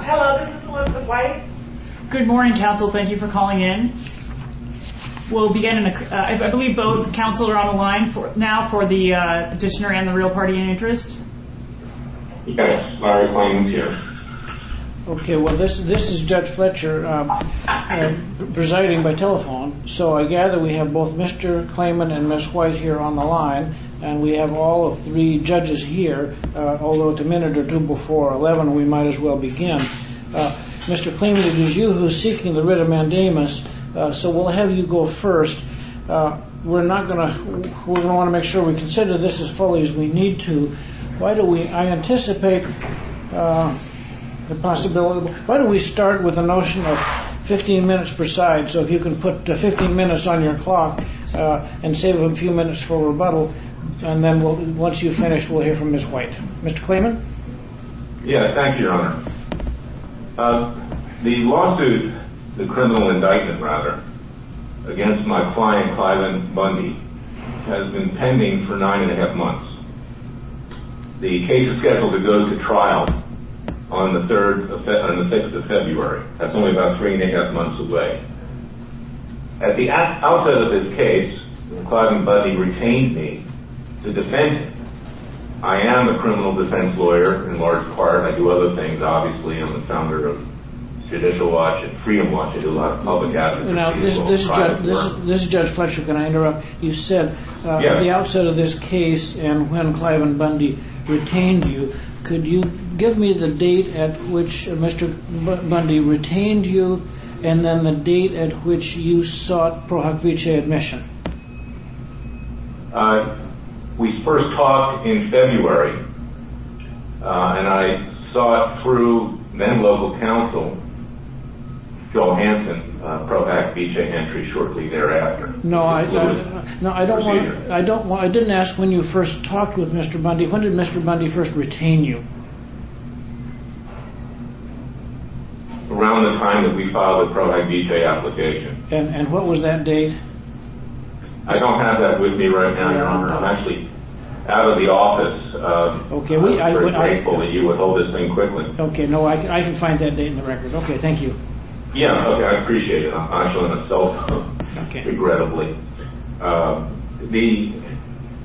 Hello, this is Elizabeth White. Good morning, counsel. Thank you for calling in. I believe both counsel are on the line now for the petitioner and the real party in interest. Yes, Larry Klayman here. Okay, well this is Judge Fletcher presiding by telephone, so I gather we have both Mr. Klayman and Ms. White here on the line, and we have all of three judges here, although it's a minute or two before 11, we might as well begin. Mr. Klayman, it is you who is seeking the writ of mandamus, so we'll have you go first. We're not going to – we're going to want to make sure we consider this as fully as we need to. Why don't we – I anticipate the possibility – why don't we start with the notion of 15 minutes per side, so if you can put 15 minutes on your clock and save a few minutes for rebuttal, and then once you finish, we'll hear from Ms. White. Mr. Klayman? Yes, thank you, Your Honor. The lawsuit, the criminal indictment rather, against my client, Cliven Bundy, has been pending for nine and a half months. The case is scheduled to go to trial on the 6th of February. That's only about three and a half months away. At the outset of this case, Cliven Bundy retained me to defend him. I am a criminal defense lawyer in large part. I do other things, obviously. I'm the founder of Judicial Watch and Freedom Watch. I do a lot of public advocacy. This is Judge Fletcher. Can I interrupt? You said at the outset of this case and when Cliven Bundy retained you, could you give me the date at which Mr. Bundy retained you and then the date at which you sought ProHackVice admission? We first talked in February, and I sought through then-local counsel, Joe Hanson, ProHackVice entry shortly thereafter. No, I didn't ask when you first talked with Mr. Bundy. When did Mr. Bundy first retain you? Around the time that we filed the ProHackVice application. And what was that date? I don't have that with me right now, Your Honor. I'm actually out of the office. I'm very grateful that you would hold this thing quickly. Okay, no, I can find that date in the record. Okay, thank you. Yeah, okay, I appreciate it. I'll show him a cell phone, regrettably.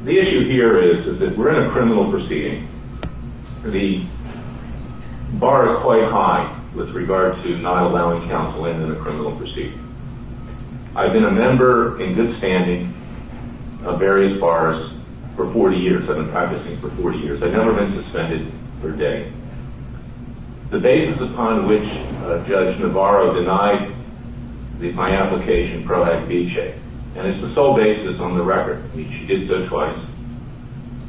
The issue here is that we're in a criminal proceeding. The bar is quite high with regard to not allowing counsel in in a criminal proceeding. I've been a member in good standing of various bars for 40 years. I've been practicing for 40 years. I've never been suspended per day. The basis upon which Judge Navarro denied my application, ProHackVice, and it's the sole basis on the record, at least she did so twice,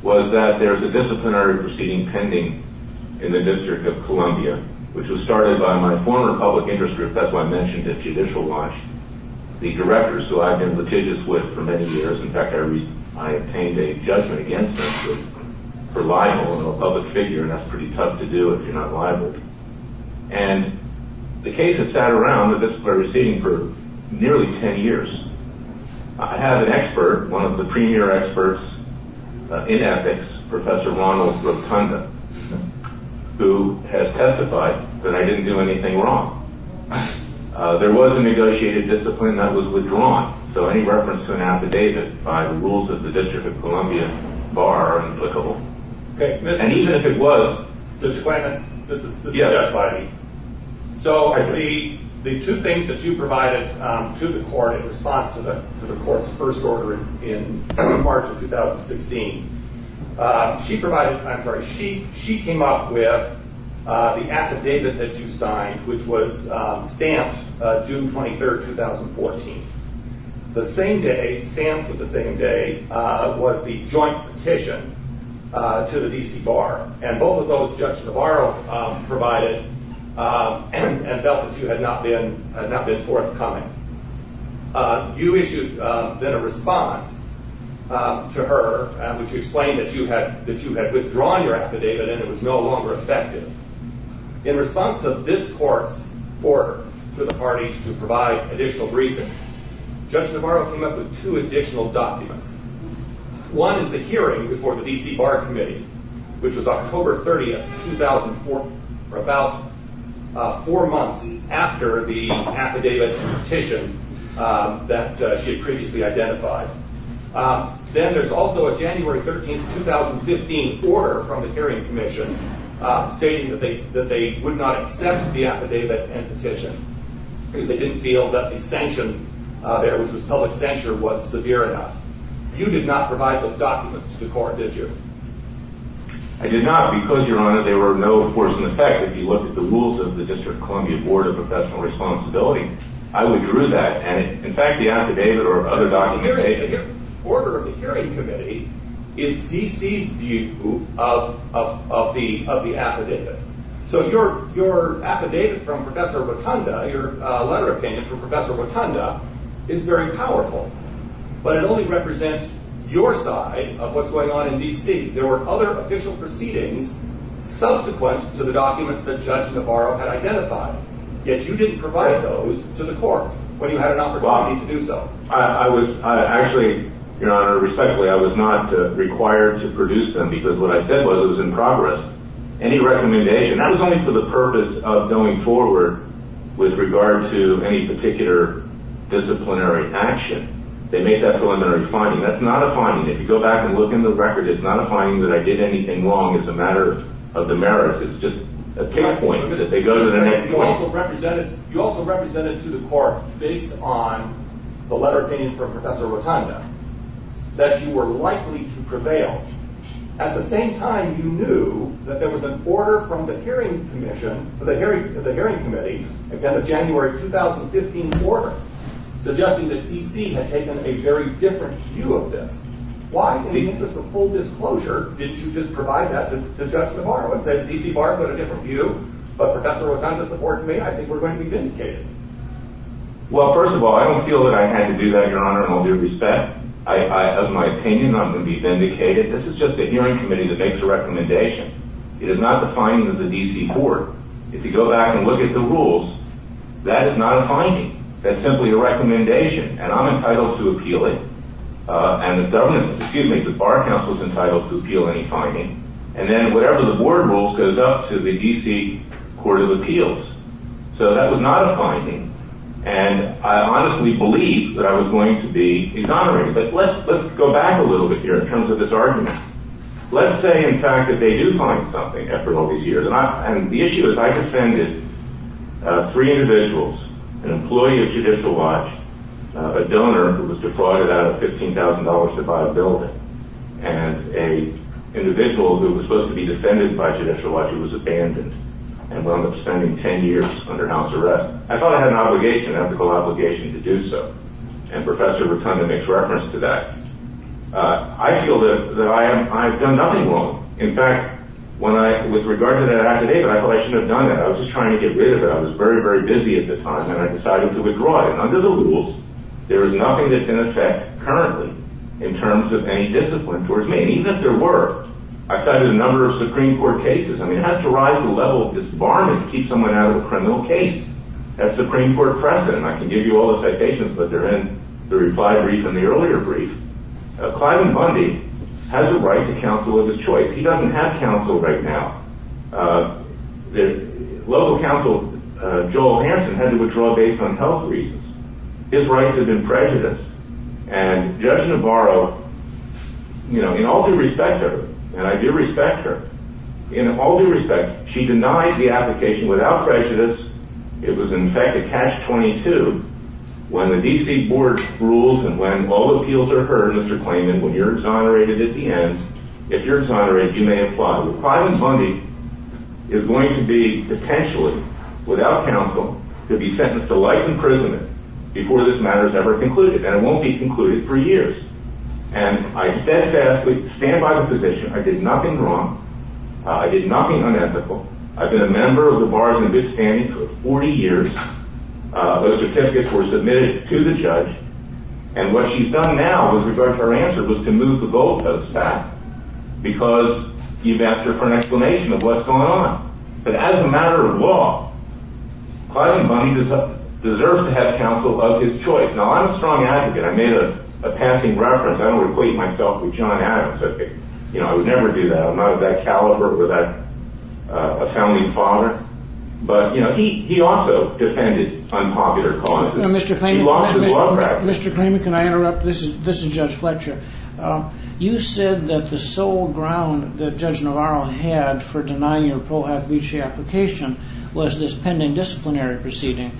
was that there's a disciplinary proceeding pending in the District of Columbia, which was started by my former public interest group, that's why I mentioned it, Judicial Watch, the directors who I've been litigious with for many years. In fact, I obtained a judgment against them for libel in a public figure, and that's pretty tough to do if you're not liable. And the case has sat around the disciplinary proceeding for nearly 10 years. I have an expert, one of the premier experts in ethics, Professor Ronald Rotunda, who has testified that I didn't do anything wrong. There was a negotiated discipline that was withdrawn, so any reference to an affidavit by the rules of the District of Columbia bar are implicable. And even if it was... Mr. Quayman, this is justified to you. So the two things that you provided to the court in response to the court's first order in March of 2016, she came up with the affidavit that you signed, which was stamped June 23, 2014. The same day, stamped with the same day, was the joint petition to the D.C. Bar, and both of those Judge Navarro provided and felt that you had not been forthcoming. You issued then a response to her, which explained that you had withdrawn your affidavit and it was no longer effective. In response to this court's order for the parties to provide additional briefing, Judge Navarro came up with two additional documents. One is the hearing before the D.C. Bar Committee, which was October 30, 2004, about four months after the affidavit and petition that she had previously identified. Then there's also a January 13, 2015 order from the Hearing Commission stating that they would not accept the affidavit and petition because they didn't feel that the sanction there, which was public censure, was severe enough. You did not provide those documents to the court, did you? I did not. Because, Your Honor, they were of no enforcement effect. If you look at the rules of the District of Columbia Board of Professional Responsibility, I withdrew that. And, in fact, the affidavit or other documents... The order of the Hearing Committee is D.C.'s view of the affidavit. So your affidavit from Professor Rotunda, your letter obtained from Professor Rotunda, is very powerful. But it only represents your side of what's going on in D.C. There were other official proceedings subsequent to the documents that Judge Navarro had identified. Yet you didn't provide those to the court when you had an opportunity to do so. I was... Actually, Your Honor, respectfully, I was not required to produce them because what I said was it was in progress. Any recommendation... That was only for the purpose of going forward with regard to any particular disciplinary action. They made that preliminary finding. That's not a finding. If you go back and look in the records, it's not a finding that I did anything wrong. It's a matter of the merits. It's just a pinpoint that they go to the next point. You also represented to the court, based on the letter obtained from Professor Rotunda, that you were likely to prevail. At the same time, you knew that there was an order from the Hearing Commission, the Hearing Committee, again, the January 2015 order, suggesting that D.C. had taken a very different view of this. Why, in the interest of full disclosure, did you just provide that to Judge Navarro and say, D.C. Barr put a different view, but Professor Rotunda supports me, I think we're going to be vindicated? Well, first of all, I don't feel that I had to do that, Your Honor, in all due respect. Of my opinion, I'm going to be vindicated. This is just the Hearing Committee that makes a recommendation. It is not the findings of the D.C. Court. If you go back and look at the rules, that is not a finding. That's simply a recommendation, and I'm entitled to appeal it. And the Bar Council is entitled to appeal any finding. And then whatever the board rules goes up to the D.C. Court of Appeals. So that was not a finding. And I honestly believed that I was going to be exonerated. But let's go back a little bit here in terms of this argument. Let's say, in fact, that they do find something after all these years. And the issue is, I defended three individuals, an employee of Judicial Watch, a donor who was defrauded out of $15,000 to buy a building, and an individual who was supposed to be defended by Judicial Watch who was abandoned, and wound up spending 10 years under house arrest. I thought I had an obligation, an ethical obligation, to do so. And Professor Rotunda makes reference to that. I feel that I have done nothing wrong. In fact, with regard to that affidavit, I thought I shouldn't have done that. I was just trying to get rid of it. I was very, very busy at the time, and I decided to withdraw it. And under the rules, there is nothing that's in effect currently in terms of any discipline towards me. And even if there were, I cited a number of Supreme Court cases. I mean, it has to rise to the level of disbarment to keep someone out of a criminal case. That's Supreme Court precedent. I can give you all the citations, but they're in the reply brief and the earlier brief. Clyven Bundy has a right to counsel of his choice. He doesn't have counsel right now. Local counsel Joel Hansen had to withdraw based on health reasons. His rights have been prejudiced. And Judge Navarro, you know, in all due respect to her, and I do respect her, in all due respect, she denied the application without prejudice. It was, in fact, a catch-22. When the D.C. Board rules and when all appeals are heard, Mr. Clayman, when you're exonerated at the end, if you're exonerated, you may apply. Now, the Clyven Bundy is going to be, potentially, without counsel, to be sentenced to life imprisonment before this matter is ever concluded. And it won't be concluded for years. And I steadfastly stand by the position. I did nothing wrong. I did nothing unethical. I've been a member of the Bars and Bids standing for 40 years. Those certificates were submitted to the judge. And what she's done now, with regard to her answer, was to move the vote votes back because you've asked her for an explanation of what's going on. But as a matter of law, Clyven Bundy deserves to have counsel of his choice. Now, I'm a strong advocate. I made a passing reference. I don't equate myself with John Adams. You know, I would never do that. I'm not of that caliber. I'm not a founding father. But, you know, he also defended unpopular causes. Mr. Clayman, can I interrupt? This is Judge Fletcher. You said that the sole ground that Judge Navarro had for denying your Pro Hac Vitae application was this pending disciplinary proceeding.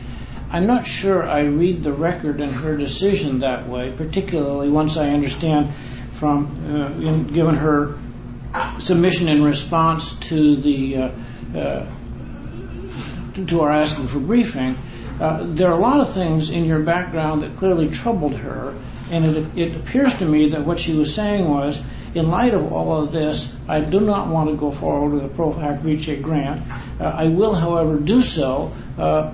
I'm not sure I read the record in her decision that way, particularly once I understand, given her submission in response to our asking for briefing, there are a lot of things in your background that clearly troubled her. And it appears to me that what she was saying was, in light of all of this, I do not want to go forward with a Pro Hac Vitae grant. I will, however, do so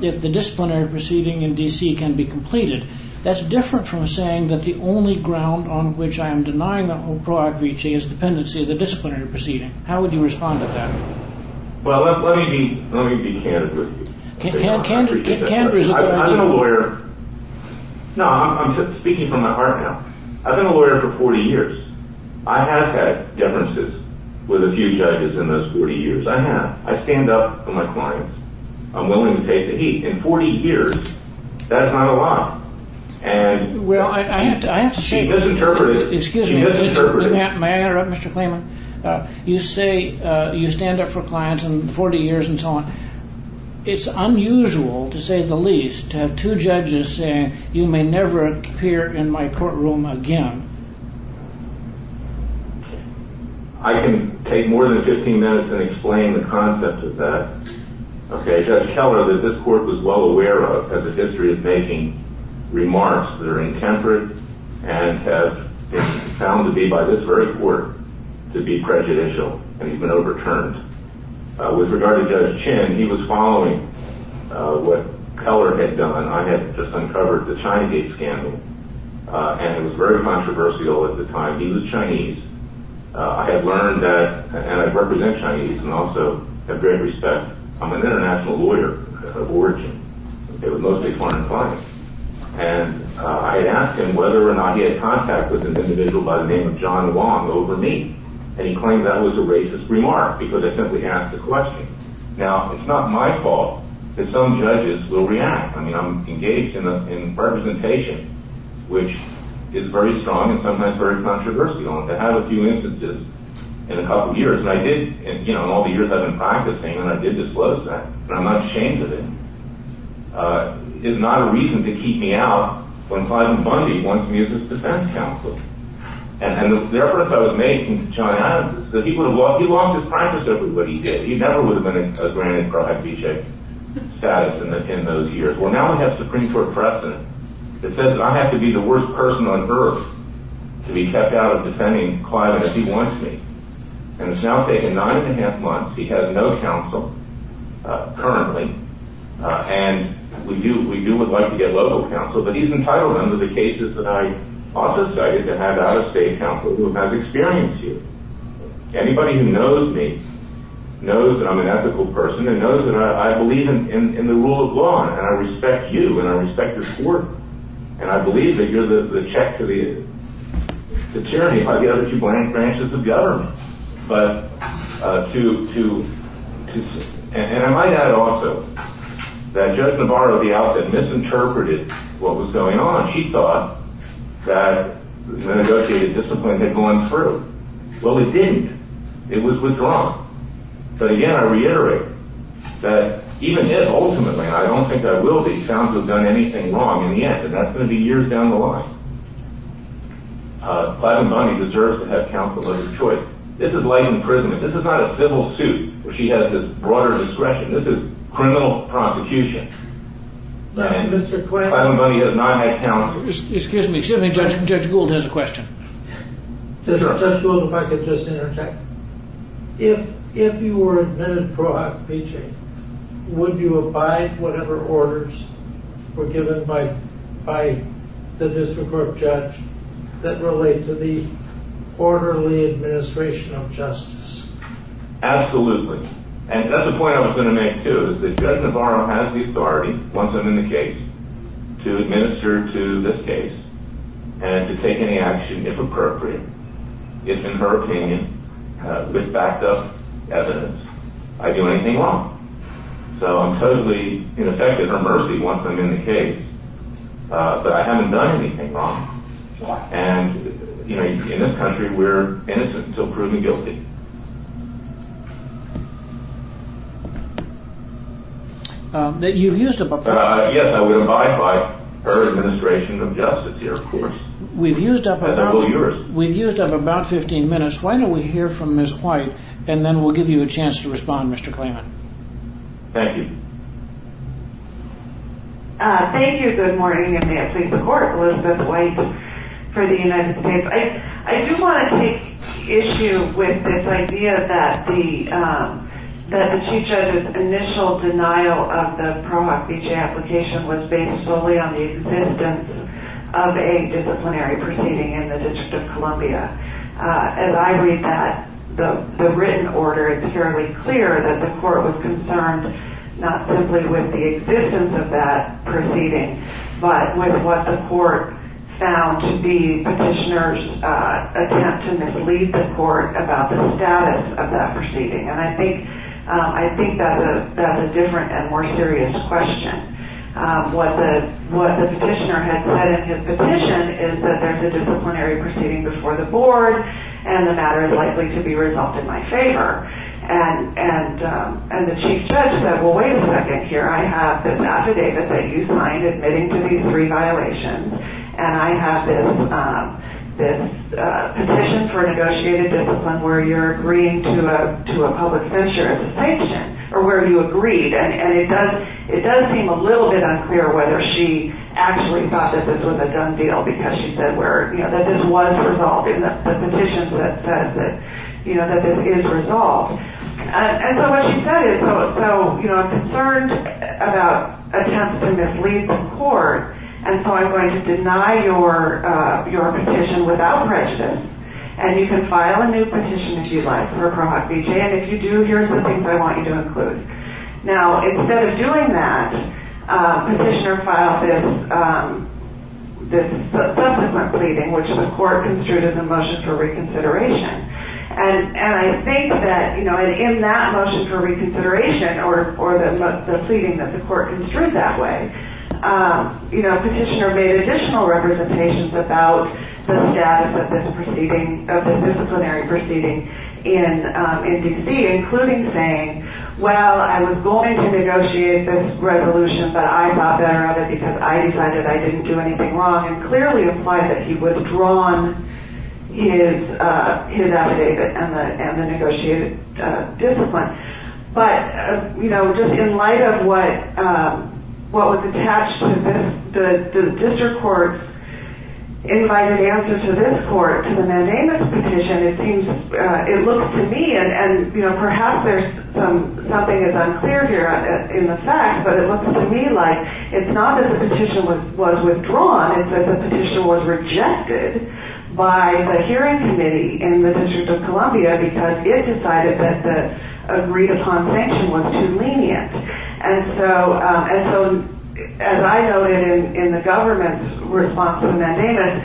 if the disciplinary proceeding in D.C. can be completed. That's different from saying that the only ground on which I am denying the whole Pro Hac Vitae is dependency of the disciplinary proceeding. How would you respond to that? Well, let me be candid with you. Candid? I'm a lawyer. No, I'm speaking from my heart now. I've been a lawyer for 40 years. I have had differences with a few judges in those 40 years. I have. I stand up for my clients. I'm willing to take the heat. In 40 years, that's not a lot. Well, I have to say... She misinterpreted. Excuse me. May I interrupt, Mr. Klayman? You say you stand up for clients in 40 years and so on. It's unusual, to say the least, to have two judges saying, you may never appear in my courtroom again. I can take more than 15 minutes and explain the concept of that. Okay, Judge Keller, that this court was well aware of has a history of making remarks that are intemperate and have been found to be, by this very court, to be prejudicial and even overturned. With regard to Judge Chin, when he was following what Keller had done, I had just uncovered the Chinagate scandal. And it was very controversial at the time. He was Chinese. I had learned that... And I represent Chinese and also have great respect. I'm an international lawyer of origin. It was mostly foreign clients. And I had asked him whether or not he had contact with an individual by the name of John Wong over me. And he claimed that was a racist remark because I simply asked a question. Now, it's not my fault that some judges will react. I mean, I'm engaged in representation, which is very strong and sometimes very controversial. And I've had a few instances in a couple of years. I did, you know, in all the years I've been practicing, and I did disclose that. And I'm not ashamed of it. It is not a reason to keep me out when Clyde and Fundy want me as a defense counsel. And the effort I was made against John Adams is that he would have lost his practice over what he did. He never would have been a granted pro-hypocritic status in those years. Well, now we have Supreme Court precedent that says that I have to be the worst person on earth to be kept out of defending Clyde as he wants me. And it's now taken nine and a half months. He has no counsel currently. And we do would like to get local counsel, but he's entitled under the cases that I author-cited to have out-of-state counsel who has experience here. Anybody who knows me knows that I'm an ethical person and knows that I believe in the rule of law, and I respect you, and I respect your court. And I believe that you're the check to the tyranny by the other two blank branches of government. And I might add also that Judge Navarro at the outset misinterpreted what was going on. She thought that the negotiated discipline had gone through. Well, it didn't. It was withdrawn. But again, I reiterate that even if ultimately, and I don't think I will be, counsel has done anything wrong in the end, but that's going to be years down the line. Clyde and Bunny deserve to have counsel of their choice. This is like imprisonment. This is not a civil suit where she has this broader discretion. This is criminal prosecution. And Clyde and Bunny has not had counsel. Excuse me. Judge Gould has a question. Judge Gould, if I could just interject. If you were admitted for PJ, would you abide whatever orders were given by the district court judge that relate to the orderly administration of justice? Absolutely. And that's a point I was going to make, too, is that Judge Navarro has the authority, once I'm in the case, to administer to this case and to take any action, if appropriate. It's, in her opinion, with backed up evidence. I'd do anything wrong. So I'm totally in effect at her mercy once I'm in the case. But I haven't done anything wrong. And in this country, we're innocent until proven guilty. You've used them before. Yes. And I would abide by her administration of justice here, of course. We've used up about 15 minutes. Why don't we hear from Ms. White, and then we'll give you a chance to respond, Mr. Klayman. Thank you. Thank you. Good morning. And may it please the court, Elizabeth White for the United States. I do want to take issue with this idea that the chief judge's initial denial of the promo PJ application was based solely on the existence of a disciplinary proceeding in the District of Columbia. As I read that, the written order is fairly clear that the court was concerned not simply with the existence of that proceeding, but with what the court found to be petitioner's attempt to mislead the court about the status of that proceeding. And I think that's a different and more serious question. What the petitioner had said in his petition is that there's a disciplinary proceeding before the board, and the matter is likely to be resolved in my favor. And the chief judge said, well, wait a second here. I have this affidavit that you signed admitting to these three violations. And I have this petition for a negotiated discipline where you're agreeing to a public censure as a sanction, or where you agreed. And it does seem a little bit unclear whether she actually thought that this was a done deal, because she said that this was resolved in the petition that says that this is resolved. And so what she said is, so I'm concerned about attempts to mislead the court, and so I'm going to deny your petition without question. And you can file a new petition, if you'd like, for Cromartie J. And if you do, here are some things I want you to include. Now, instead of doing that, petitioner filed this subsequent pleading, which the court construed as a motion for reconsideration. And I think that in that motion for reconsideration, or the pleading that the court construed that way, petitioner made additional representations about the status of this disciplinary proceeding in Dixie, including saying, well, I was going to negotiate this resolution, but I thought better of it, because I decided I didn't do anything wrong, and clearly implied that he withdrawn his affidavit and the negotiated discipline. But just in light of what was attached to the district court's invited answer to this court to the mandamus petition, it looks to me, and perhaps there's something that's unclear here in the fact, but it looks to me like it's not that the petition was withdrawn. It's that the petition was rejected by the hearing committee in the District of Columbia, too lenient. And so as I know it in the government's response to the mandamus,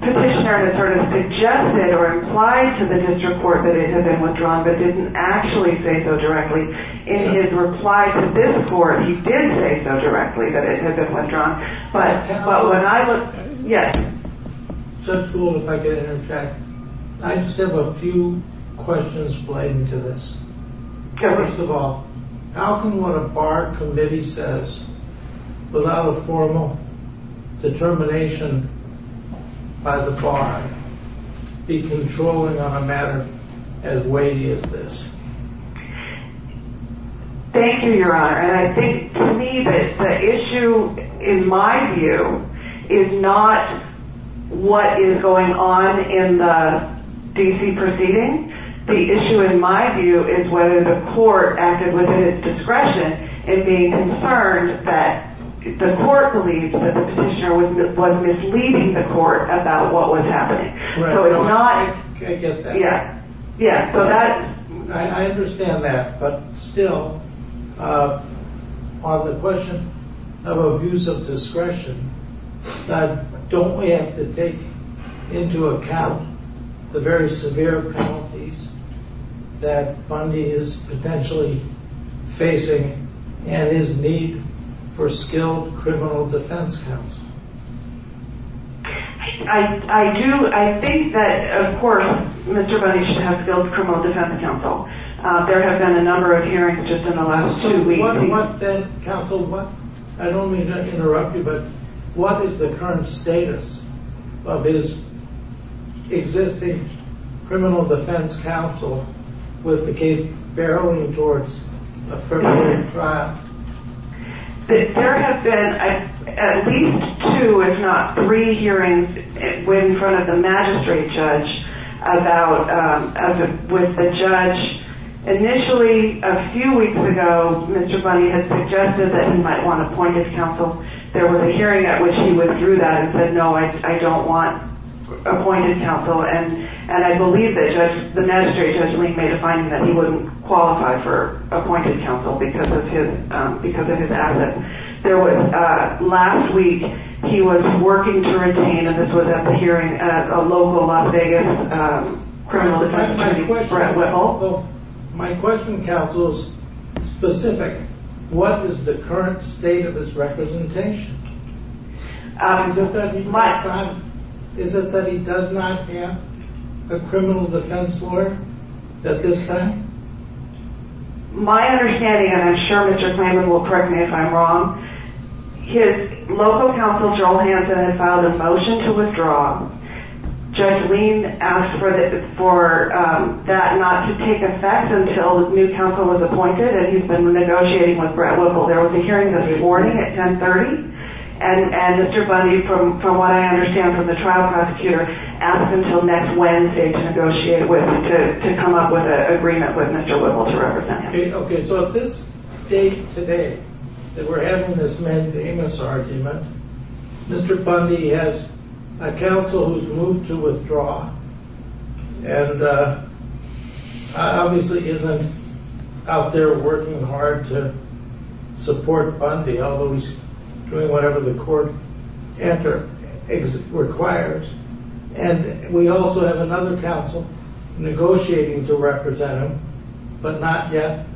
petitioner had sort of suggested or implied to the district court that it had been withdrawn, but didn't actually say so directly. In his reply to this court, he did say so directly that it had been withdrawn. But when I look, yes? Such rules might get in effect. I just have a few questions relating to this. First of all, how can what a bar committee says without a formal determination by the bar be controlling on a matter as weighty as this? Thank you, Your Honor. And I think to me that the issue, in my view, is not what is going on in the DC proceeding. The issue, in my view, is whether the court acted within its discretion in being concerned that the court believes that the petitioner was misleading the court about what was happening. Right. I get that. Yeah. Yeah. I understand that, but still, on the question of abuse of discretion, don't we have to take into account the very severe penalties that Bundy is potentially facing and his need for skilled criminal defense counsel? I do. I think that, of course, Mr. Bundy should have skilled criminal defense counsel. There have been a number of hearings just in the last two weeks. So what then, counsel, I don't mean to interrupt you, but what is the current status of his existing criminal defense counsel with the case barreling towards a preliminary trial? There have been at least two, if not three, hearings in front of the magistrate judge with the judge. Initially, a few weeks ago, Mr. Bundy has suggested that he might want appointed counsel. There was a hearing at which he withdrew that and said, no, I don't want appointed counsel. And I believe that the magistrate judge made a finding that he wouldn't qualify for appointed counsel because of his absence. Last week, he was working to retain, and this was at the hearing, a local Las Vegas criminal defense counsel. My question, counsel, is specific. What is the current state of his representation? Is it that he does not have a criminal defense lawyer at this time? My understanding, and I'm sure Mr. Klamath will correct me if I'm wrong, his local counsel, Joel Hanson, had filed a motion to withdraw. Judge Lean asked for that not to take effect until a new counsel was appointed, and he's been negotiating with Brett Whittle. There was a hearing this morning at 1030, and Mr. Bundy, from what I understand from the trial prosecutor, asked until next Wednesday to negotiate with him to come up with an agreement with Mr. Whittle to represent him. OK, so at this date today that we're having this mandamus argument, Mr. Bundy has a counsel who's moved to withdraw and obviously isn't out there working hard to support Bundy, although he's doing whatever the court requires. And we also have another counsel negotiating to represent him, but not yet,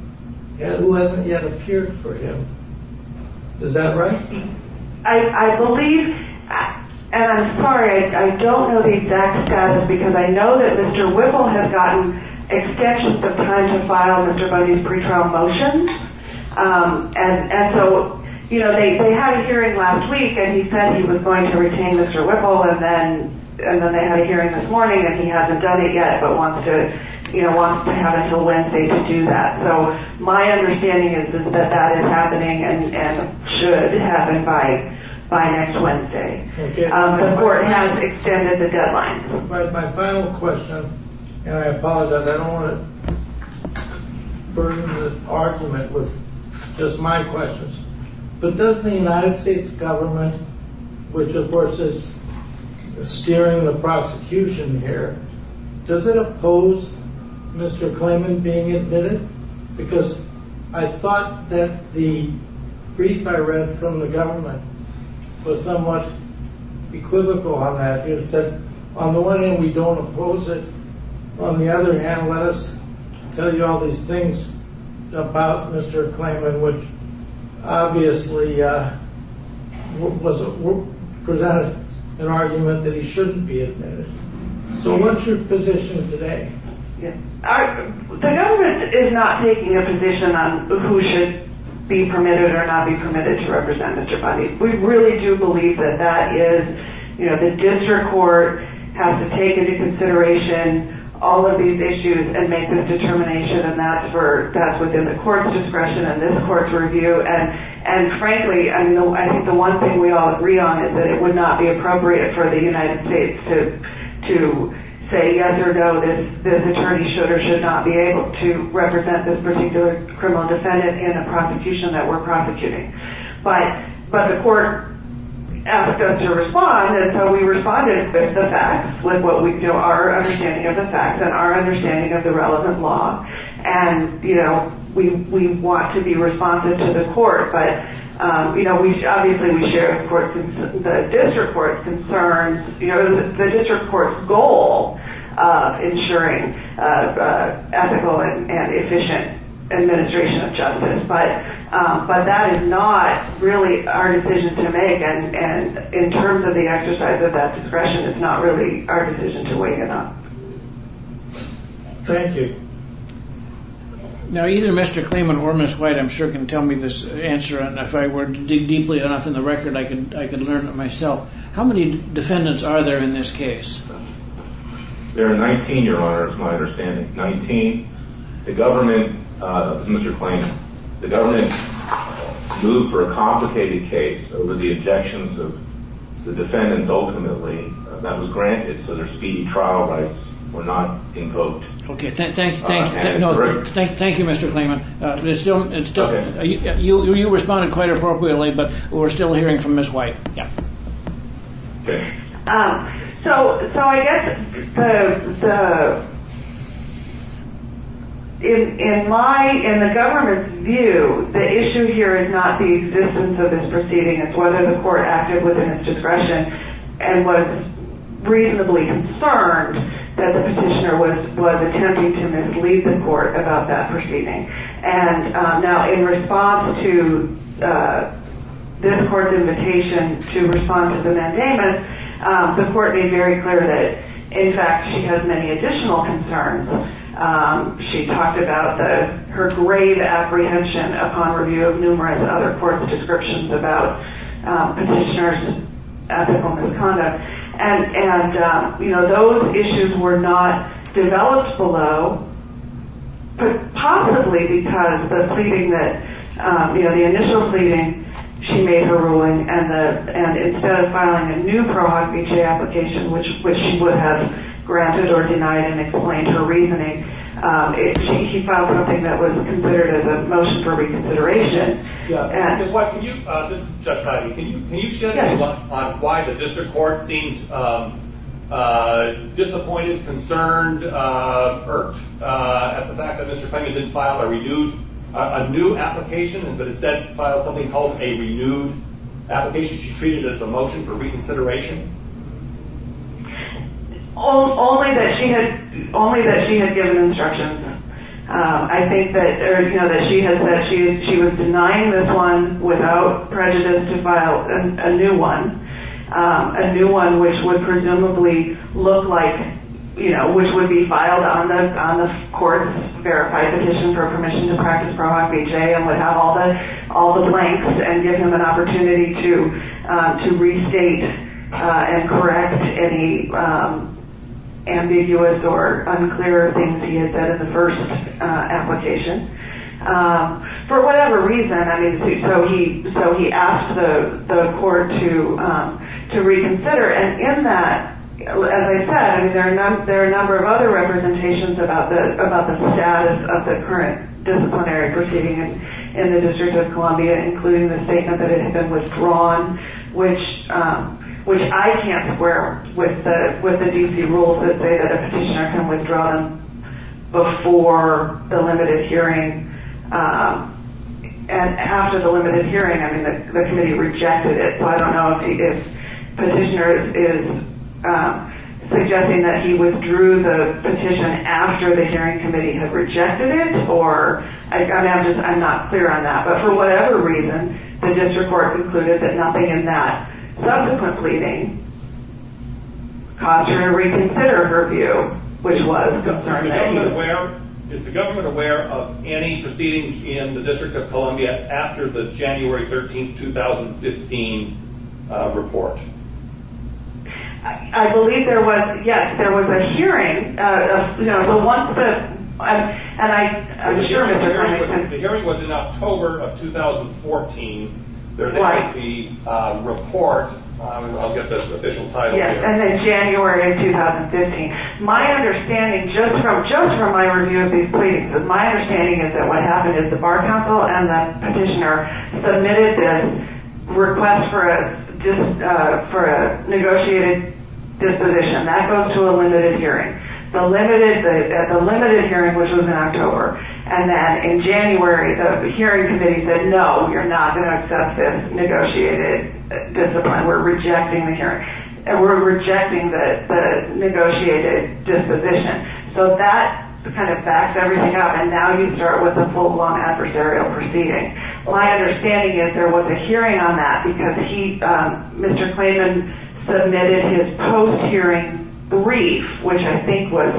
who hasn't yet appeared for him. Is that right? I believe, and I'm sorry, I don't know the exact status because I know that Mr. Whittle has gotten extensions of time to file Mr. Bundy's pretrial motions. And so they had a hearing last week, and he said he was going to retain Mr. Whittle, and then they had a hearing this morning and he hasn't done it yet but wants to have until Wednesday to do that. So my understanding is that that is happening and should happen by next Wednesday. The court has extended the deadline. My final question, and I apologize, I don't want to burn the argument with just my questions, but does the United States government, which of course is steering the prosecution here, does it oppose Mr. Klayman being admitted? Because I thought that the brief I read from the government was somewhat equivocal on that. It said, on the one hand, we don't oppose it. On the other hand, let us tell you all these things about Mr. Klayman, which obviously presented an argument that he shouldn't be admitted. So what's your position today? The government is not taking a position on who should be permitted or not be permitted to represent Mr. Bunney. We really do believe that that is, the district court has to take into consideration all of these issues and make this determination, and that's within the court's discretion and this court's review. And frankly, I think the one thing we all agree on is that it would not be appropriate for the United States to say yes or no, this attorney should or should not be able to represent this particular criminal defendant in the prosecution that we're prosecuting. But the court asked us to respond, and so we responded with the facts, with our understanding of the facts and our understanding of the relevant law. And we want to be responsive to the court, but obviously we share the district court's concerns, the district court's goal of ensuring ethical and efficient administration of justice. But that is not really our decision to make, and in terms of the exercise of that discretion, it's not really our decision to weigh it up. Thank you. Now, either Mr. Klayman or Ms. White, I'm sure, can tell me this answer, and if I were to dig deeply enough in the record, I could learn it myself. How many defendants are there in this case? There are 19, Your Honor, it's my understanding. Nineteen. The government, Mr. Klayman, the government moved for a complicated case over the objections of the defendants ultimately. That was granted, so their speedy trial rights were not invoked. Thank you, Mr. Klayman. You responded quite appropriately, but we're still hearing from Ms. White. So, I guess, in the government's view, the issue here is not the existence of this proceeding, it's whether the court acted within its discretion and was reasonably concerned that the petitioner was attempting to mislead the court about that proceeding. And now, in response to this court's invitation to respond to the mandatement, the court made very clear that, in fact, she has many additional concerns. She talked about her grave apprehension upon review of numerous other court's descriptions about petitioners' ethical misconduct, and those issues were not developed below, possibly because the initial pleading, she made her ruling, and instead of filing a new Pro Hoc Vitae application, which she would have granted or denied and explained her reasoning, she filed something that was considered as a motion for reconsideration. Ms. White, can you... This is Judge Heide. Can you shed light on why the district court seemed disappointed, concerned, irked at the fact that Mr. Klayman didn't file a new application, but instead filed something called a renewed application? She treated it as a motion for reconsideration? Only that she had given instructions. I think that she has said she was denying this one without prejudice to file a new one, a new one which would presumably look like, which would be filed on this court-verified petition for permission to practice Pro Hoc Vitae and would have all the blanks and give him an opportunity to restate and correct any ambiguous or unclear things he had said in the first application. For whatever reason, so he asked the court to reconsider, and in that, as I said, there are a number of other representations about the status of the current disciplinary proceedings in the District of Columbia, including the statement that it had been withdrawn, which I can't square with the D.C. rules that say that a petitioner can withdraw them before the limited hearing, and after the limited hearing. I mean, the committee rejected it, so I don't know if petitioner is suggesting that he withdrew the petition after the hearing committee had rejected it, or, I'm not clear on that, but for whatever reason, the District Court concluded that nothing in that subsequent pleading caused her to reconsider her view, which was concerning. Is the government aware of any proceedings in the District of Columbia after the January 13, 2015 report? I believe there was, yes, there was a hearing, you know, the one that, and I, I'm sure Mr. Hines, The hearing was in October of 2014. Right. There was the report, I'll get the official title here. Yes, and then January of 2015. My understanding, just from, just from my review of these pleadings, my understanding is that what happened is the Bar Council and the petitioner submitted the request for a, for a negotiated disposition. That goes to a limited hearing. The limited, at the limited hearing, which was in October, and then in January, the hearing committee said, no, you're not going to accept this negotiated discipline. We're rejecting the hearing. We're rejecting the negotiated disposition. So that kind of backs everything up, and now you start with a full-blown adversarial proceeding. My understanding is there was a hearing on that, because he, Mr. Klayman, submitted his post-hearing brief, which I think was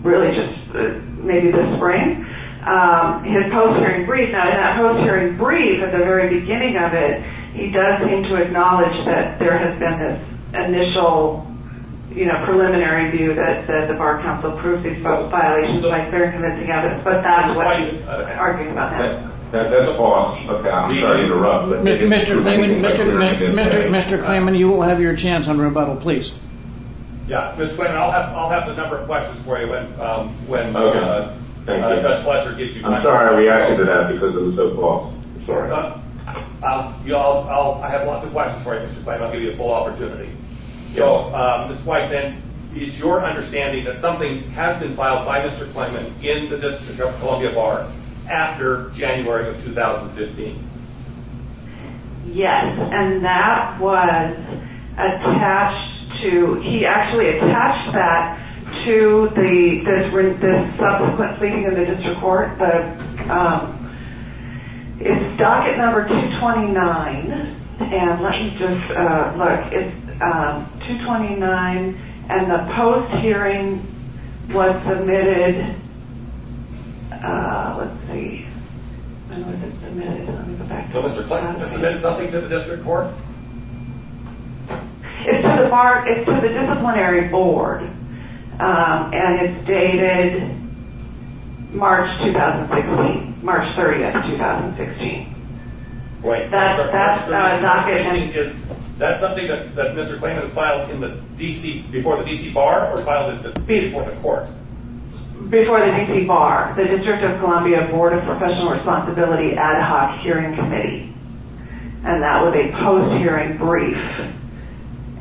really just, maybe this spring, his post-hearing brief. Now, that post-hearing brief, at the very beginning of it, he does seem to acknowledge that there has been this initial, you know, preliminary view that the Bar Council approved these violations by fair and convincing evidence, but that is what he's arguing about. That's false. Okay, I'm sorry to interrupt. Mr. Klayman, you will have your chance on rebuttal. Please. Yeah, Mr. Klayman, I'll have the number of questions for you when Judge Fletcher gives you time. I'm sorry, I reacted to that because it was so false. Sorry. I have lots of questions for you, Mr. Klayman. I'll give you the full opportunity. So, Ms. White, then it's your understanding that something has been filed by Mr. Klayman in the District of Columbia Bar after January of 2015? Yes, and that was attached to, he actually attached that to this subsequent speaking in the District Court, but it's docket number 229, and let me just look. It's 229, and the post-hearing was submitted Let's see. I don't know if it's submitted. Let me go back. Did Mr. Klayman submit something to the District Court? It's to the disciplinary board, and it's dated March 2016, March 30th, 2016. Right. That's a docket. Is that something that Mr. Klayman has filed before the D.C. Bar or filed before the court? Before the D.C. Bar. The District of Columbia Board of Professional Responsibility Ad Hoc Hearing Committee, and that was a post-hearing brief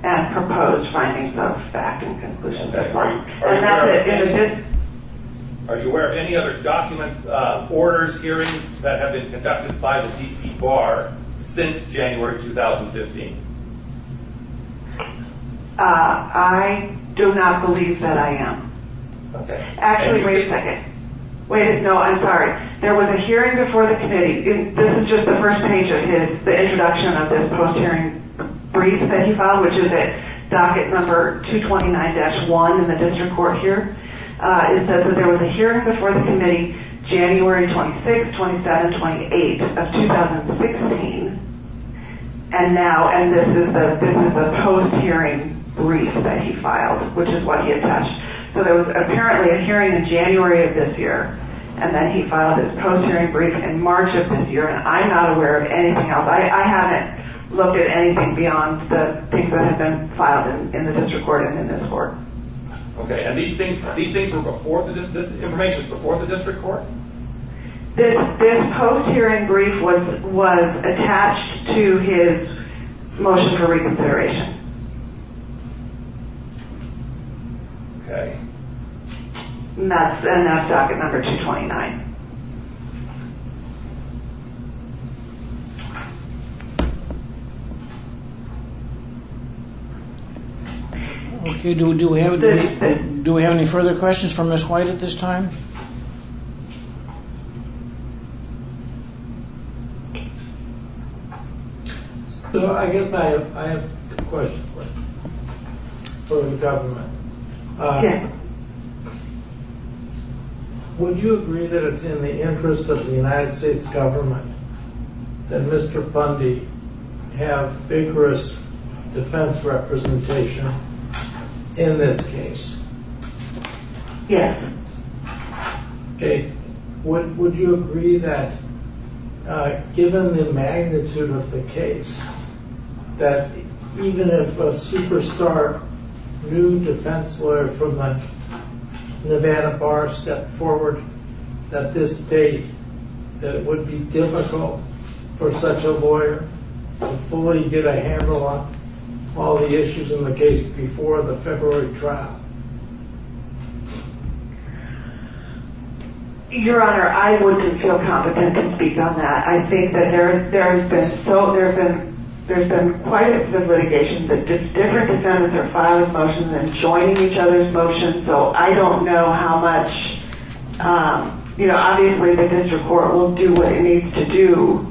and proposed findings of fact and conclusions of fact. Are you aware of any other documents, orders, hearings that have been conducted by the D.C. Bar since January 2015? I do not believe that I am. Actually, wait a second. No, I'm sorry. There was a hearing before the committee. This is just the first page of the introduction of this post-hearing brief that he filed, which is at docket number 229-1 in the District Court here. It says that there was a hearing before the committee January 26th, 27th, 28th of 2016, and this is the post-hearing brief that he filed, which is what he attached. So there was apparently a hearing in January of this year, and then he filed his post-hearing brief in March of this year, and I'm not aware of anything else. I haven't looked at anything beyond the things that have been filed in the District Court and in this court. Okay, and these things were before, this information was before the District Court? This post-hearing brief was attached to his motion for reconsideration. Okay. And that's docket number 229. Okay, do we have any further questions from Ms. White at this time? I guess I have a question for the government. Okay. Would you agree that it's in the interest of the United States government that Mr. Bundy have vigorous defense representation in this case? Yeah. Okay. Would you agree that given the magnitude of the case, that even if a superstar new defense lawyer from a Nevada bar stepped forward at this date, that it would be difficult for such a lawyer to fully get a handle on all the issues in the case before the February trial? Your Honor, I wouldn't feel competent to speak on that. I think that there's been quite a bit of litigation, but different defendants are filing motions and joining each other's motions, so I don't know how much, you know, obviously the district court will do what it needs to do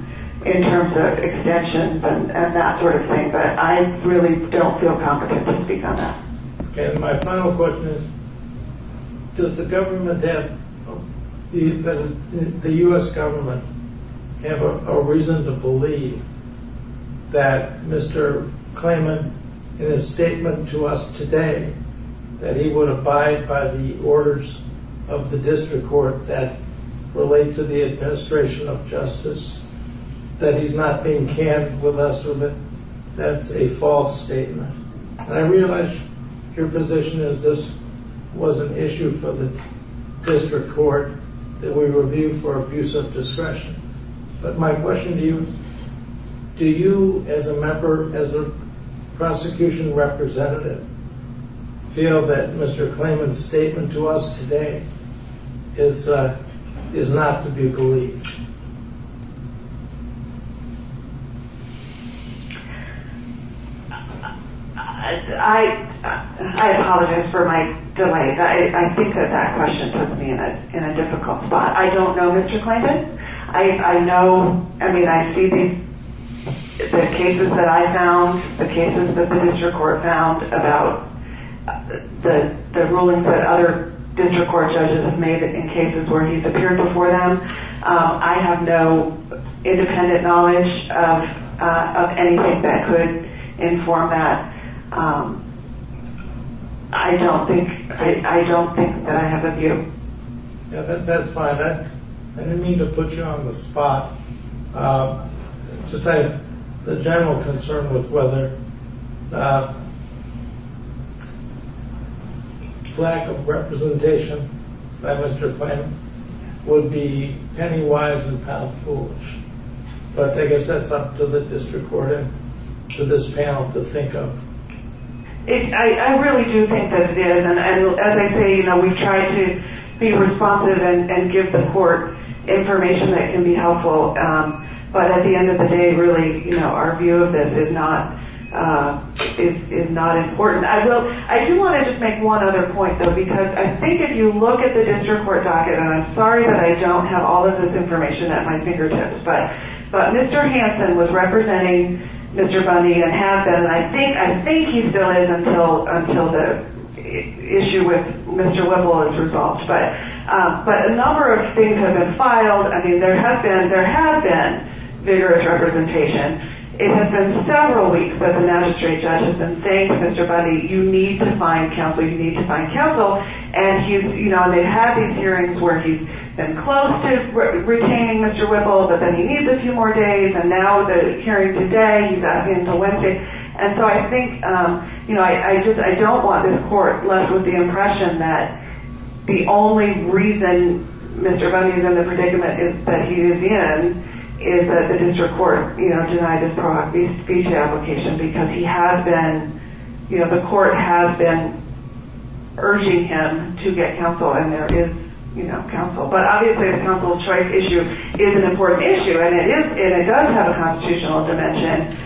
in terms of extensions and that sort of thing, but I really don't feel competent to speak on that. And my final question is, does the government have, does the U.S. government have a reason to believe that Mr. Klayman in his statement to us today, that he would abide by the orders of the district court that relate to the administration of justice, that he's not being canned with us, or that that's a false statement? And I realize your position is this was an issue for the district court that we review for abuse of discretion, but my question to you, do you as a member, as a prosecution representative, feel that Mr. Klayman's statement to us today is not to be believed? I apologize for my delay. I think that that question put me in a difficult spot. I don't know Mr. Klayman. I know, I mean, I see the cases that I found, the cases that the district court found about the rulings that other district court judges have made in cases where he's appeared before them. I have no independent knowledge of anything that could inform that. I don't think, I don't think that I have a view. That's fine. I didn't mean to put you on the spot. To tell you the general concern with whether lack of representation by Mr. Klayman would be penny wise and pound foolish, but I guess that's up to the district court and to this panel to think of. I really do think that it is, and as I say, you know, we try to be responsive and give the court information that can be helpful, but at the end of the day, really, you know, our view of this is not important. I do want to just make one other point, though, because I think if you look at the district court docket, and I'm sorry that I don't have all of this information at my fingertips, but Mr. Hanson was representing Mr. Bundy and half that, and I think he still is until the issue with Mr. Whipple is resolved, but a number of things have been filed. I mean, there have been vigorous representation. It has been several weeks that the magistrate judge has been saying to Mr. Bundy, you need to find counsel, you need to find counsel, and they've had these hearings where he's been close to retaining Mr. Whipple, but then he needs a few more days, and now the hearing today, he's out here until Wednesday, and so I think, you know, I just don't want this court left with the impression that the only reason Mr. Bundy is in the predicament that he is in is that the district court, you know, denied his prosecution application because he has been, you know, the court has been urging him to get counsel, and there is, you know, counsel, but obviously the counsel choice issue is an important issue, and it does have a constitutional dimension,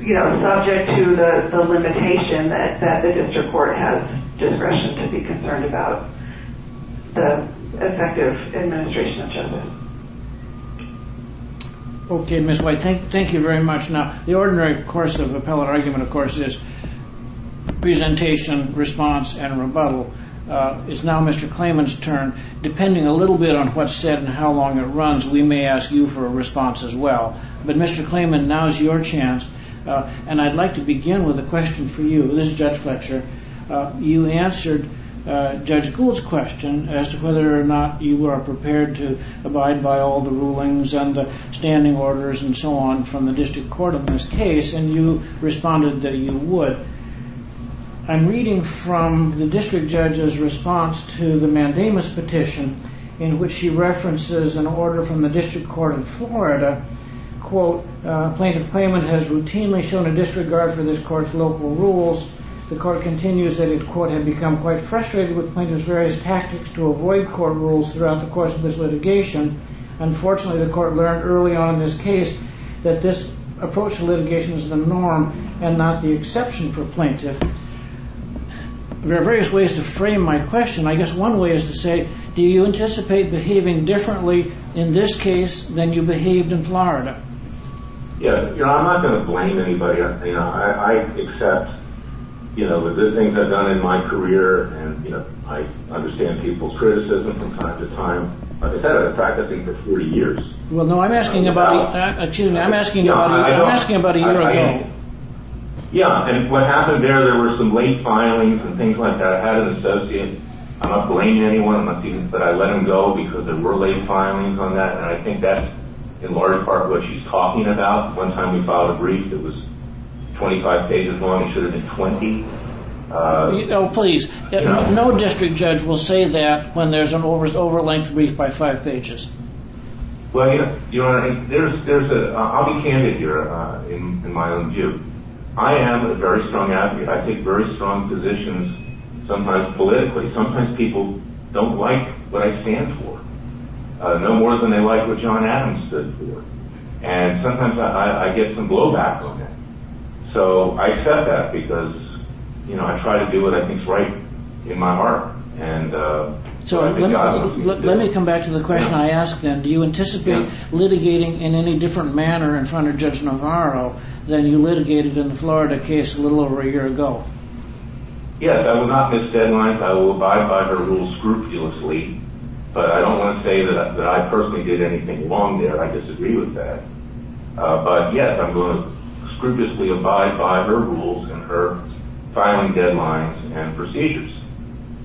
you know, subject to the limitation and that the district court has discretion to be concerned about the effective administration agenda. Okay, Ms. White, thank you very much. Now, the ordinary course of appellate argument, of course, is presentation, response, and rebuttal. It's now Mr. Klayman's turn. Depending a little bit on what's said and how long it runs, we may ask you for a response as well, but Mr. Klayman, now's your chance, and I'd like to begin with a question for you. This is Judge Fletcher. You answered Judge Gould's question as to whether or not you were prepared to abide by all the rulings and the standing orders and so on from the district court in this case, and you responded that you would. I'm reading from the district judge's response to the mandamus petition in which she references an order from the district court in Florida. Quote, plaintiff Klayman has routinely shown a disregard for this court's local rules The court continues that it, quote, had become quite frustrated with plaintiff's various tactics to avoid court rules throughout the course of this litigation. Unfortunately, the court learned early on in this case that this approach to litigation is the norm and not the exception for plaintiff. There are various ways to frame my question. I guess one way is to say, do you anticipate behaving differently in this case than you behaved in Florida? Yes. You know, I'm not going to blame anybody. I accept, you know, the good things I've done in my career, and I understand people's criticism from time to time. Like I said, I've been practicing for 40 years. Well, no, I'm asking about a year ago. Yeah, and what happened there, there were some late filings and things like that. I had an associate. I'm not blaming anyone on my team, but I let him go because there were late filings on that, and I think that's, in large part, what she's talking about. One time we filed a brief. It was 25 pages long. It should have been 20. Oh, please. No district judge will say that when there's an over-length brief by five pages. Well, you know, Your Honor, there's a... I'll be candid here in my own view. I am a very strong advocate. I take very strong positions, sometimes politically. Sometimes people don't like what I stand for no more than they like what John Adams stood for. And sometimes I get some blowback on that. So I accept that because, you know, I try to do what I think is right in my heart. So let me come back to the question I asked then. Do you anticipate litigating in any different manner in front of Judge Navarro than you litigated in the Florida case a little over a year ago? Yes, I will not miss deadlines. I will abide by the rules scrupulously, but I don't want to say that I personally did anything wrong there. I disagree with that. But, yes, I'm going to scrupulously abide by her rules and her filing deadlines and procedures.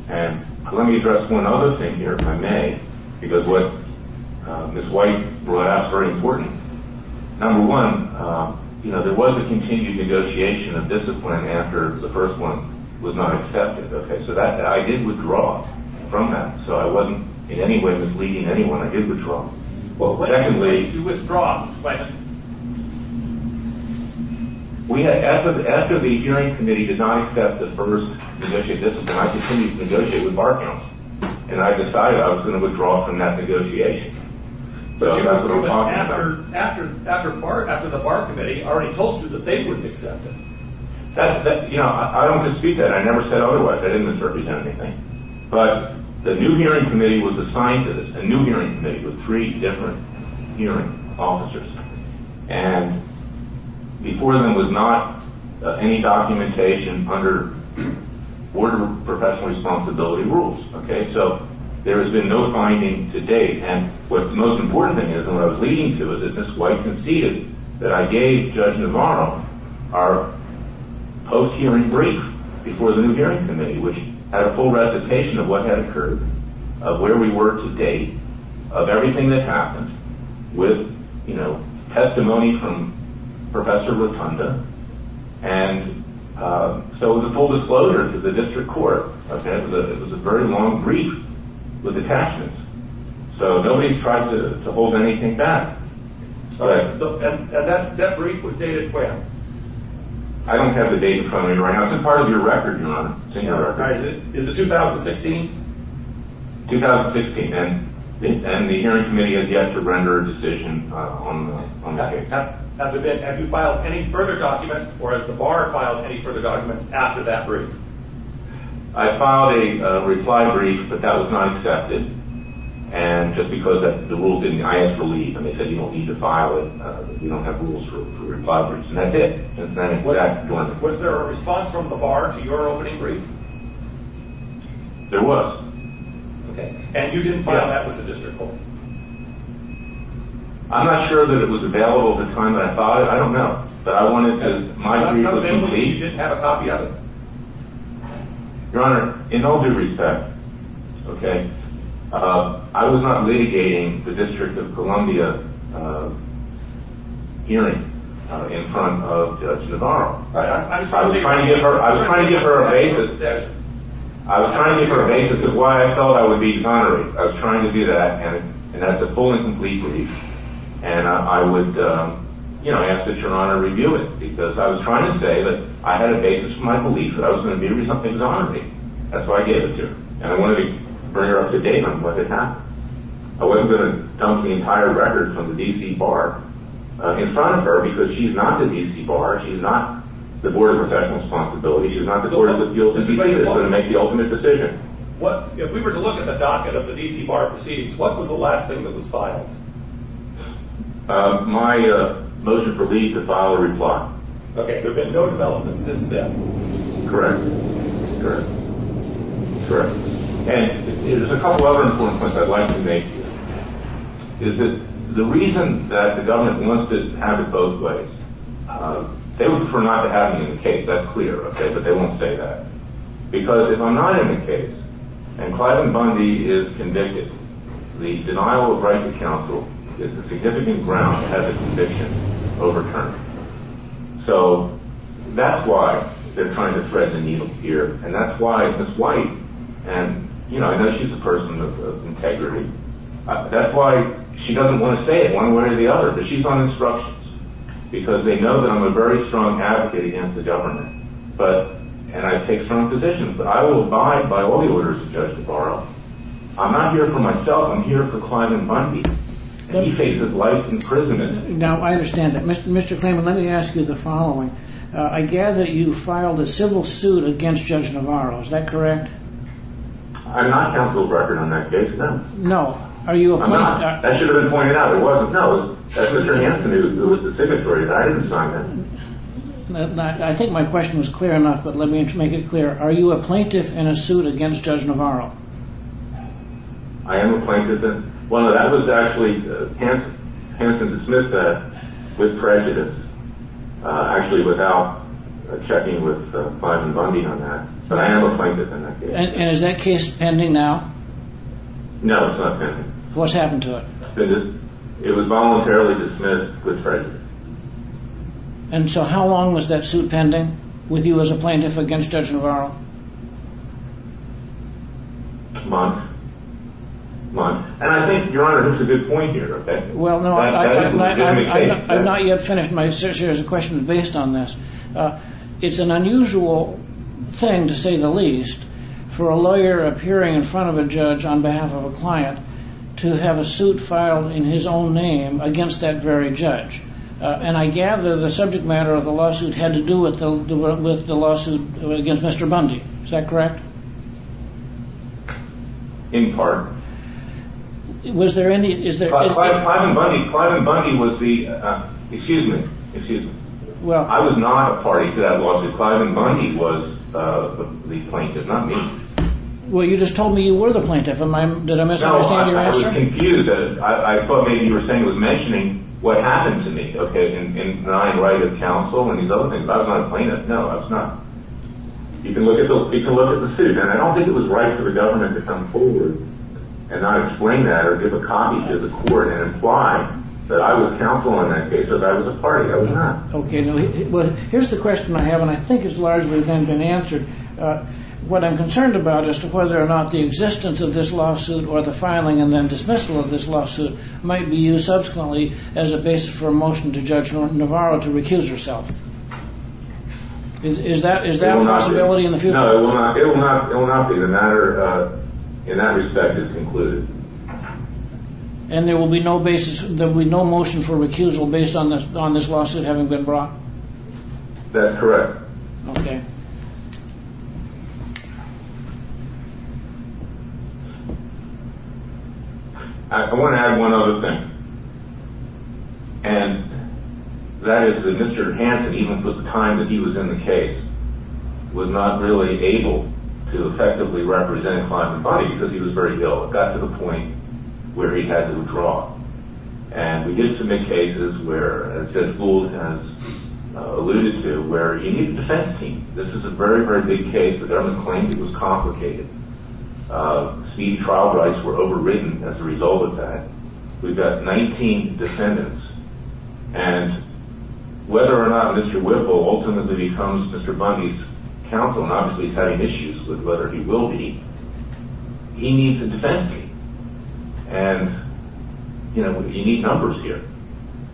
And let me address one other thing here, if I may, because what Ms. White brought up is very important. Number one, you know, there was a continued negotiation of discipline after the first one was not accepted, okay? So I did withdraw from that. So I wasn't in any way misleading anyone. I did withdraw. Well, when did you withdraw? After the hearing committee did not accept the first negotiated discipline, I continued to negotiate with bar counsel, and I decided I was going to withdraw from that negotiation. But you withdrew after the bar committee already told you that they wouldn't accept it. You know, I don't dispute that. I never said otherwise. I didn't misrepresent anything. But the new hearing committee was assigned to this. A new hearing committee with three different hearing officers. And before them was not any documentation under Board of Professional Responsibility rules, okay? So there has been no finding to date. And what's the most important thing is, and what I was leading to, is that Ms. White conceded that I gave Judge Navarro our post-hearing brief before the new hearing committee, which had a full recitation of what had occurred, of where we were to date, of everything that happened, with testimony from Professor Rotunda. And so it was a full disclosure to the district court. It was a very long brief with attachments. So nobody tried to hold anything back. So that brief was dated when? I don't have the date in front of me right now. It's a part of your record, Your Honor. Is it 2016? 2016. And the hearing committee has yet to render a decision on that. Okay. Has it been, have you filed any further documents, or has the bar filed any further documents after that brief? I filed a reply brief, but that was not accepted. And just because the rules didn't, I asked for leave, and they said, you don't need to file it. You don't have rules for reply briefs. And I did. That's not exact, Your Honor. Was there a response from the bar to your opening brief? There was. Okay. And you didn't file that with the district court? I'm not sure that it was available at the time that I filed it. I don't know. But I wanted to, my brief was complete. How come they believe you didn't have a copy of it? Your Honor, in all due respect, okay, I was not litigating the District of Columbia hearing in front of Judge Navarro. I was trying to give her a basis. I was trying to give her a basis of why I felt I would be dishonored. I was trying to do that. And that's a full and complete brief. And I would, you know, ask that Your Honor review it, because I was trying to say that I had a basis for my beliefs, that I was going to do something to honor me. That's why I gave it to her. And I wanted to bring her up to date on what had happened. I wasn't going to dump the entire record from the D.C. bar in front of her, because she's not the D.C. bar. She's not the board of professional responsibility. She's not the board of the field. The D.C. bar is going to make the ultimate decision. If we were to look at the docket of the D.C. bar proceedings, what was the last thing that was filed? My motion for leave to file a reply. Okay. There have been no developments since then. Correct. Correct. Correct. And there's a couple other important points I'd like to make. Is that the reason that the government wants this to happen both ways, they would prefer not to have me in the case. That's clear, okay, but they won't say that. Because if I'm not in the case, and Clyde and Bundy is convicted, the denial of right to counsel is a significant ground as a conviction overturned. So that's why they're trying to thread the needle here, and that's why Ms. White, and, you know, I know she's a person of integrity. That's why she doesn't want to say it one way or the other, but she's on instructions because they know that I'm a very strong advocate against the government, and I take strong positions, but I will abide by all the orders of Judge Navarro. I'm not here for myself. I'm here for Clyde and Bundy. If he takes his life, imprisonment. Now, I understand that. Mr. Klayman, let me ask you the following. I gather you filed a civil suit against Judge Navarro. Is that correct? I'm not counsel record on that case, no. No, are you a plaintiff? I'm not. That should have been pointed out. It wasn't. No, it was Mr. Hanson who was the signatory. I didn't sign that. I think my question was clear enough, but let me make it clear. Are you a plaintiff in a suit against Judge Navarro? I am a plaintiff. Well, that was actually, Hanson dismissed that with prejudice, actually without checking with Clyde and Bundy on that. But I am a plaintiff in that case. And is that case pending now? No, it's not pending. What's happened to it? It was voluntarily dismissed with prejudice. And so how long was that suit pending with you as a plaintiff against Judge Navarro? Months. Months. And I think, Your Honor, that's a good point here. Well, no, I'm not yet finished. My question is based on this. It's an unusual thing, to say the least, for a lawyer appearing in front of a judge on behalf of a client to have a suit filed in his own name against that very judge. And I gather the subject matter of the lawsuit had to do with the lawsuit against Mr. Bundy. Is that correct? In part. Was there any – Clyde and Bundy was the – excuse me, excuse me. I was not a party to that lawsuit. Clyde and Bundy was the plaintiff, not me. Well, you just told me you were the plaintiff. Did I misunderstand your answer? No, I was confused. I thought maybe you were saying it was mentioning what happened to me, okay, in my right of counsel and these other things. I was not a plaintiff. No, I was not. You can look at the suit, and I don't think it was right for the government to come forward and not explain that or give a copy to the court and imply that I was counsel in that case or that I was a party. I was not. Okay. Well, here's the question I have, and I think it's largely then been answered. What I'm concerned about is whether or not the existence of this lawsuit or the filing and then dismissal of this lawsuit might be used subsequently as a basis for a motion to Judge Navarro to recuse herself. Is that a possibility in the future? No, it will not be. It will not be. The matter in that respect is concluded. And there will be no motion for recusal based on this lawsuit having been brought? That's correct. Okay. I want to add one other thing, and that is that Mr. Hanson, even for the time that he was in the case, was not really able to effectively represent his client's body because he was very ill. It got to the point where he had to withdraw. And we did submit cases where, as Judge Bould has alluded to, where he needed a defense team. This is a very, very big case. The government claims it was complicated. Speed trial rights were overwritten as a result of that. We've got 19 defendants. And whether or not Mr. Whipple ultimately becomes Mr. Bundy's counsel, and obviously he's having issues with whether he will be, he needs a defense team. And, you know, you need numbers here.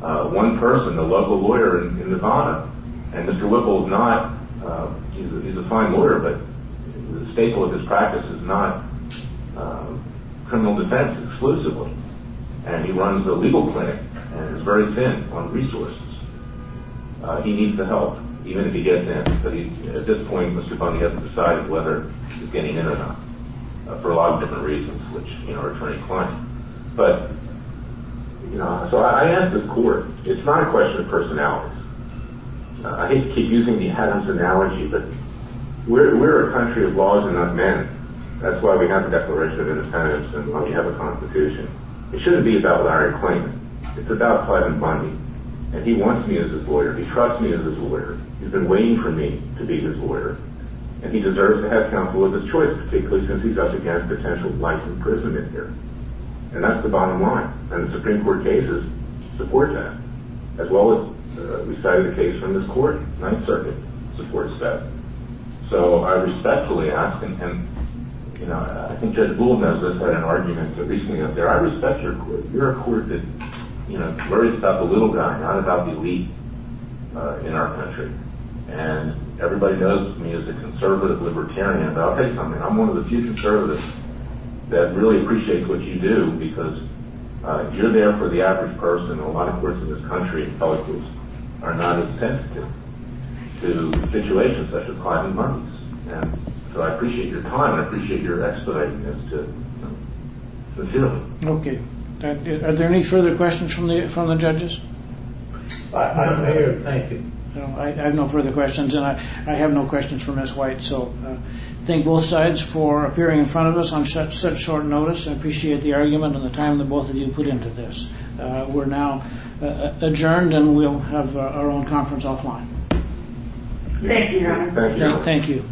One person, a local lawyer in Nevada, and Mr. Whipple is not, he's a fine lawyer, but the staple of his practice is not criminal defense exclusively, and he runs a legal clinic and is very thin on resources. He needs the help, even if he gets in. At this point, Mr. Bundy hasn't decided whether he's getting in or not for a lot of different reasons, which, you know, Attorney Klein. But, you know, so I ask the court. It's not a question of personality. I hate to keep using the Adams analogy, but we're a country of laws and not men. That's why we have the Declaration of Independence and why we have a Constitution. It shouldn't be about our claim. It's about Cliven Bundy. And he wants me as his lawyer. He trusts me as his lawyer. He's been waiting for me to be his lawyer, and he deserves to have counsel of his choice, particularly since he's up against potential life in prison in here. And that's the bottom line. And the Supreme Court cases support that, as well as we cited a case from this court, Ninth Circuit supports that. So I respectfully ask, and, you know, I think Judge Boole knows this, had an argument recently up there. I respect your court. You're a court that, you know, worries about the little guy, not about the elite in our country. And everybody knows me as a conservative libertarian, but I'll tell you something. I'm one of the few conservatives that really appreciates what you do because you're there for the average person. A lot of courts in this country, folks who are not as sensitive to situations such as Cliven Bundy's. And so I appreciate your time. I appreciate your expediting this, too. Sincerely. Okay. Are there any further questions from the judges? I'm here. Thank you. I have no further questions, and I have no questions for Ms. White. So thank both sides for appearing in front of us on such short notice. I appreciate the argument and the time that both of you put into this. We're now adjourned, and we'll have our own conference offline. Thank you, Your Honor. Thank you.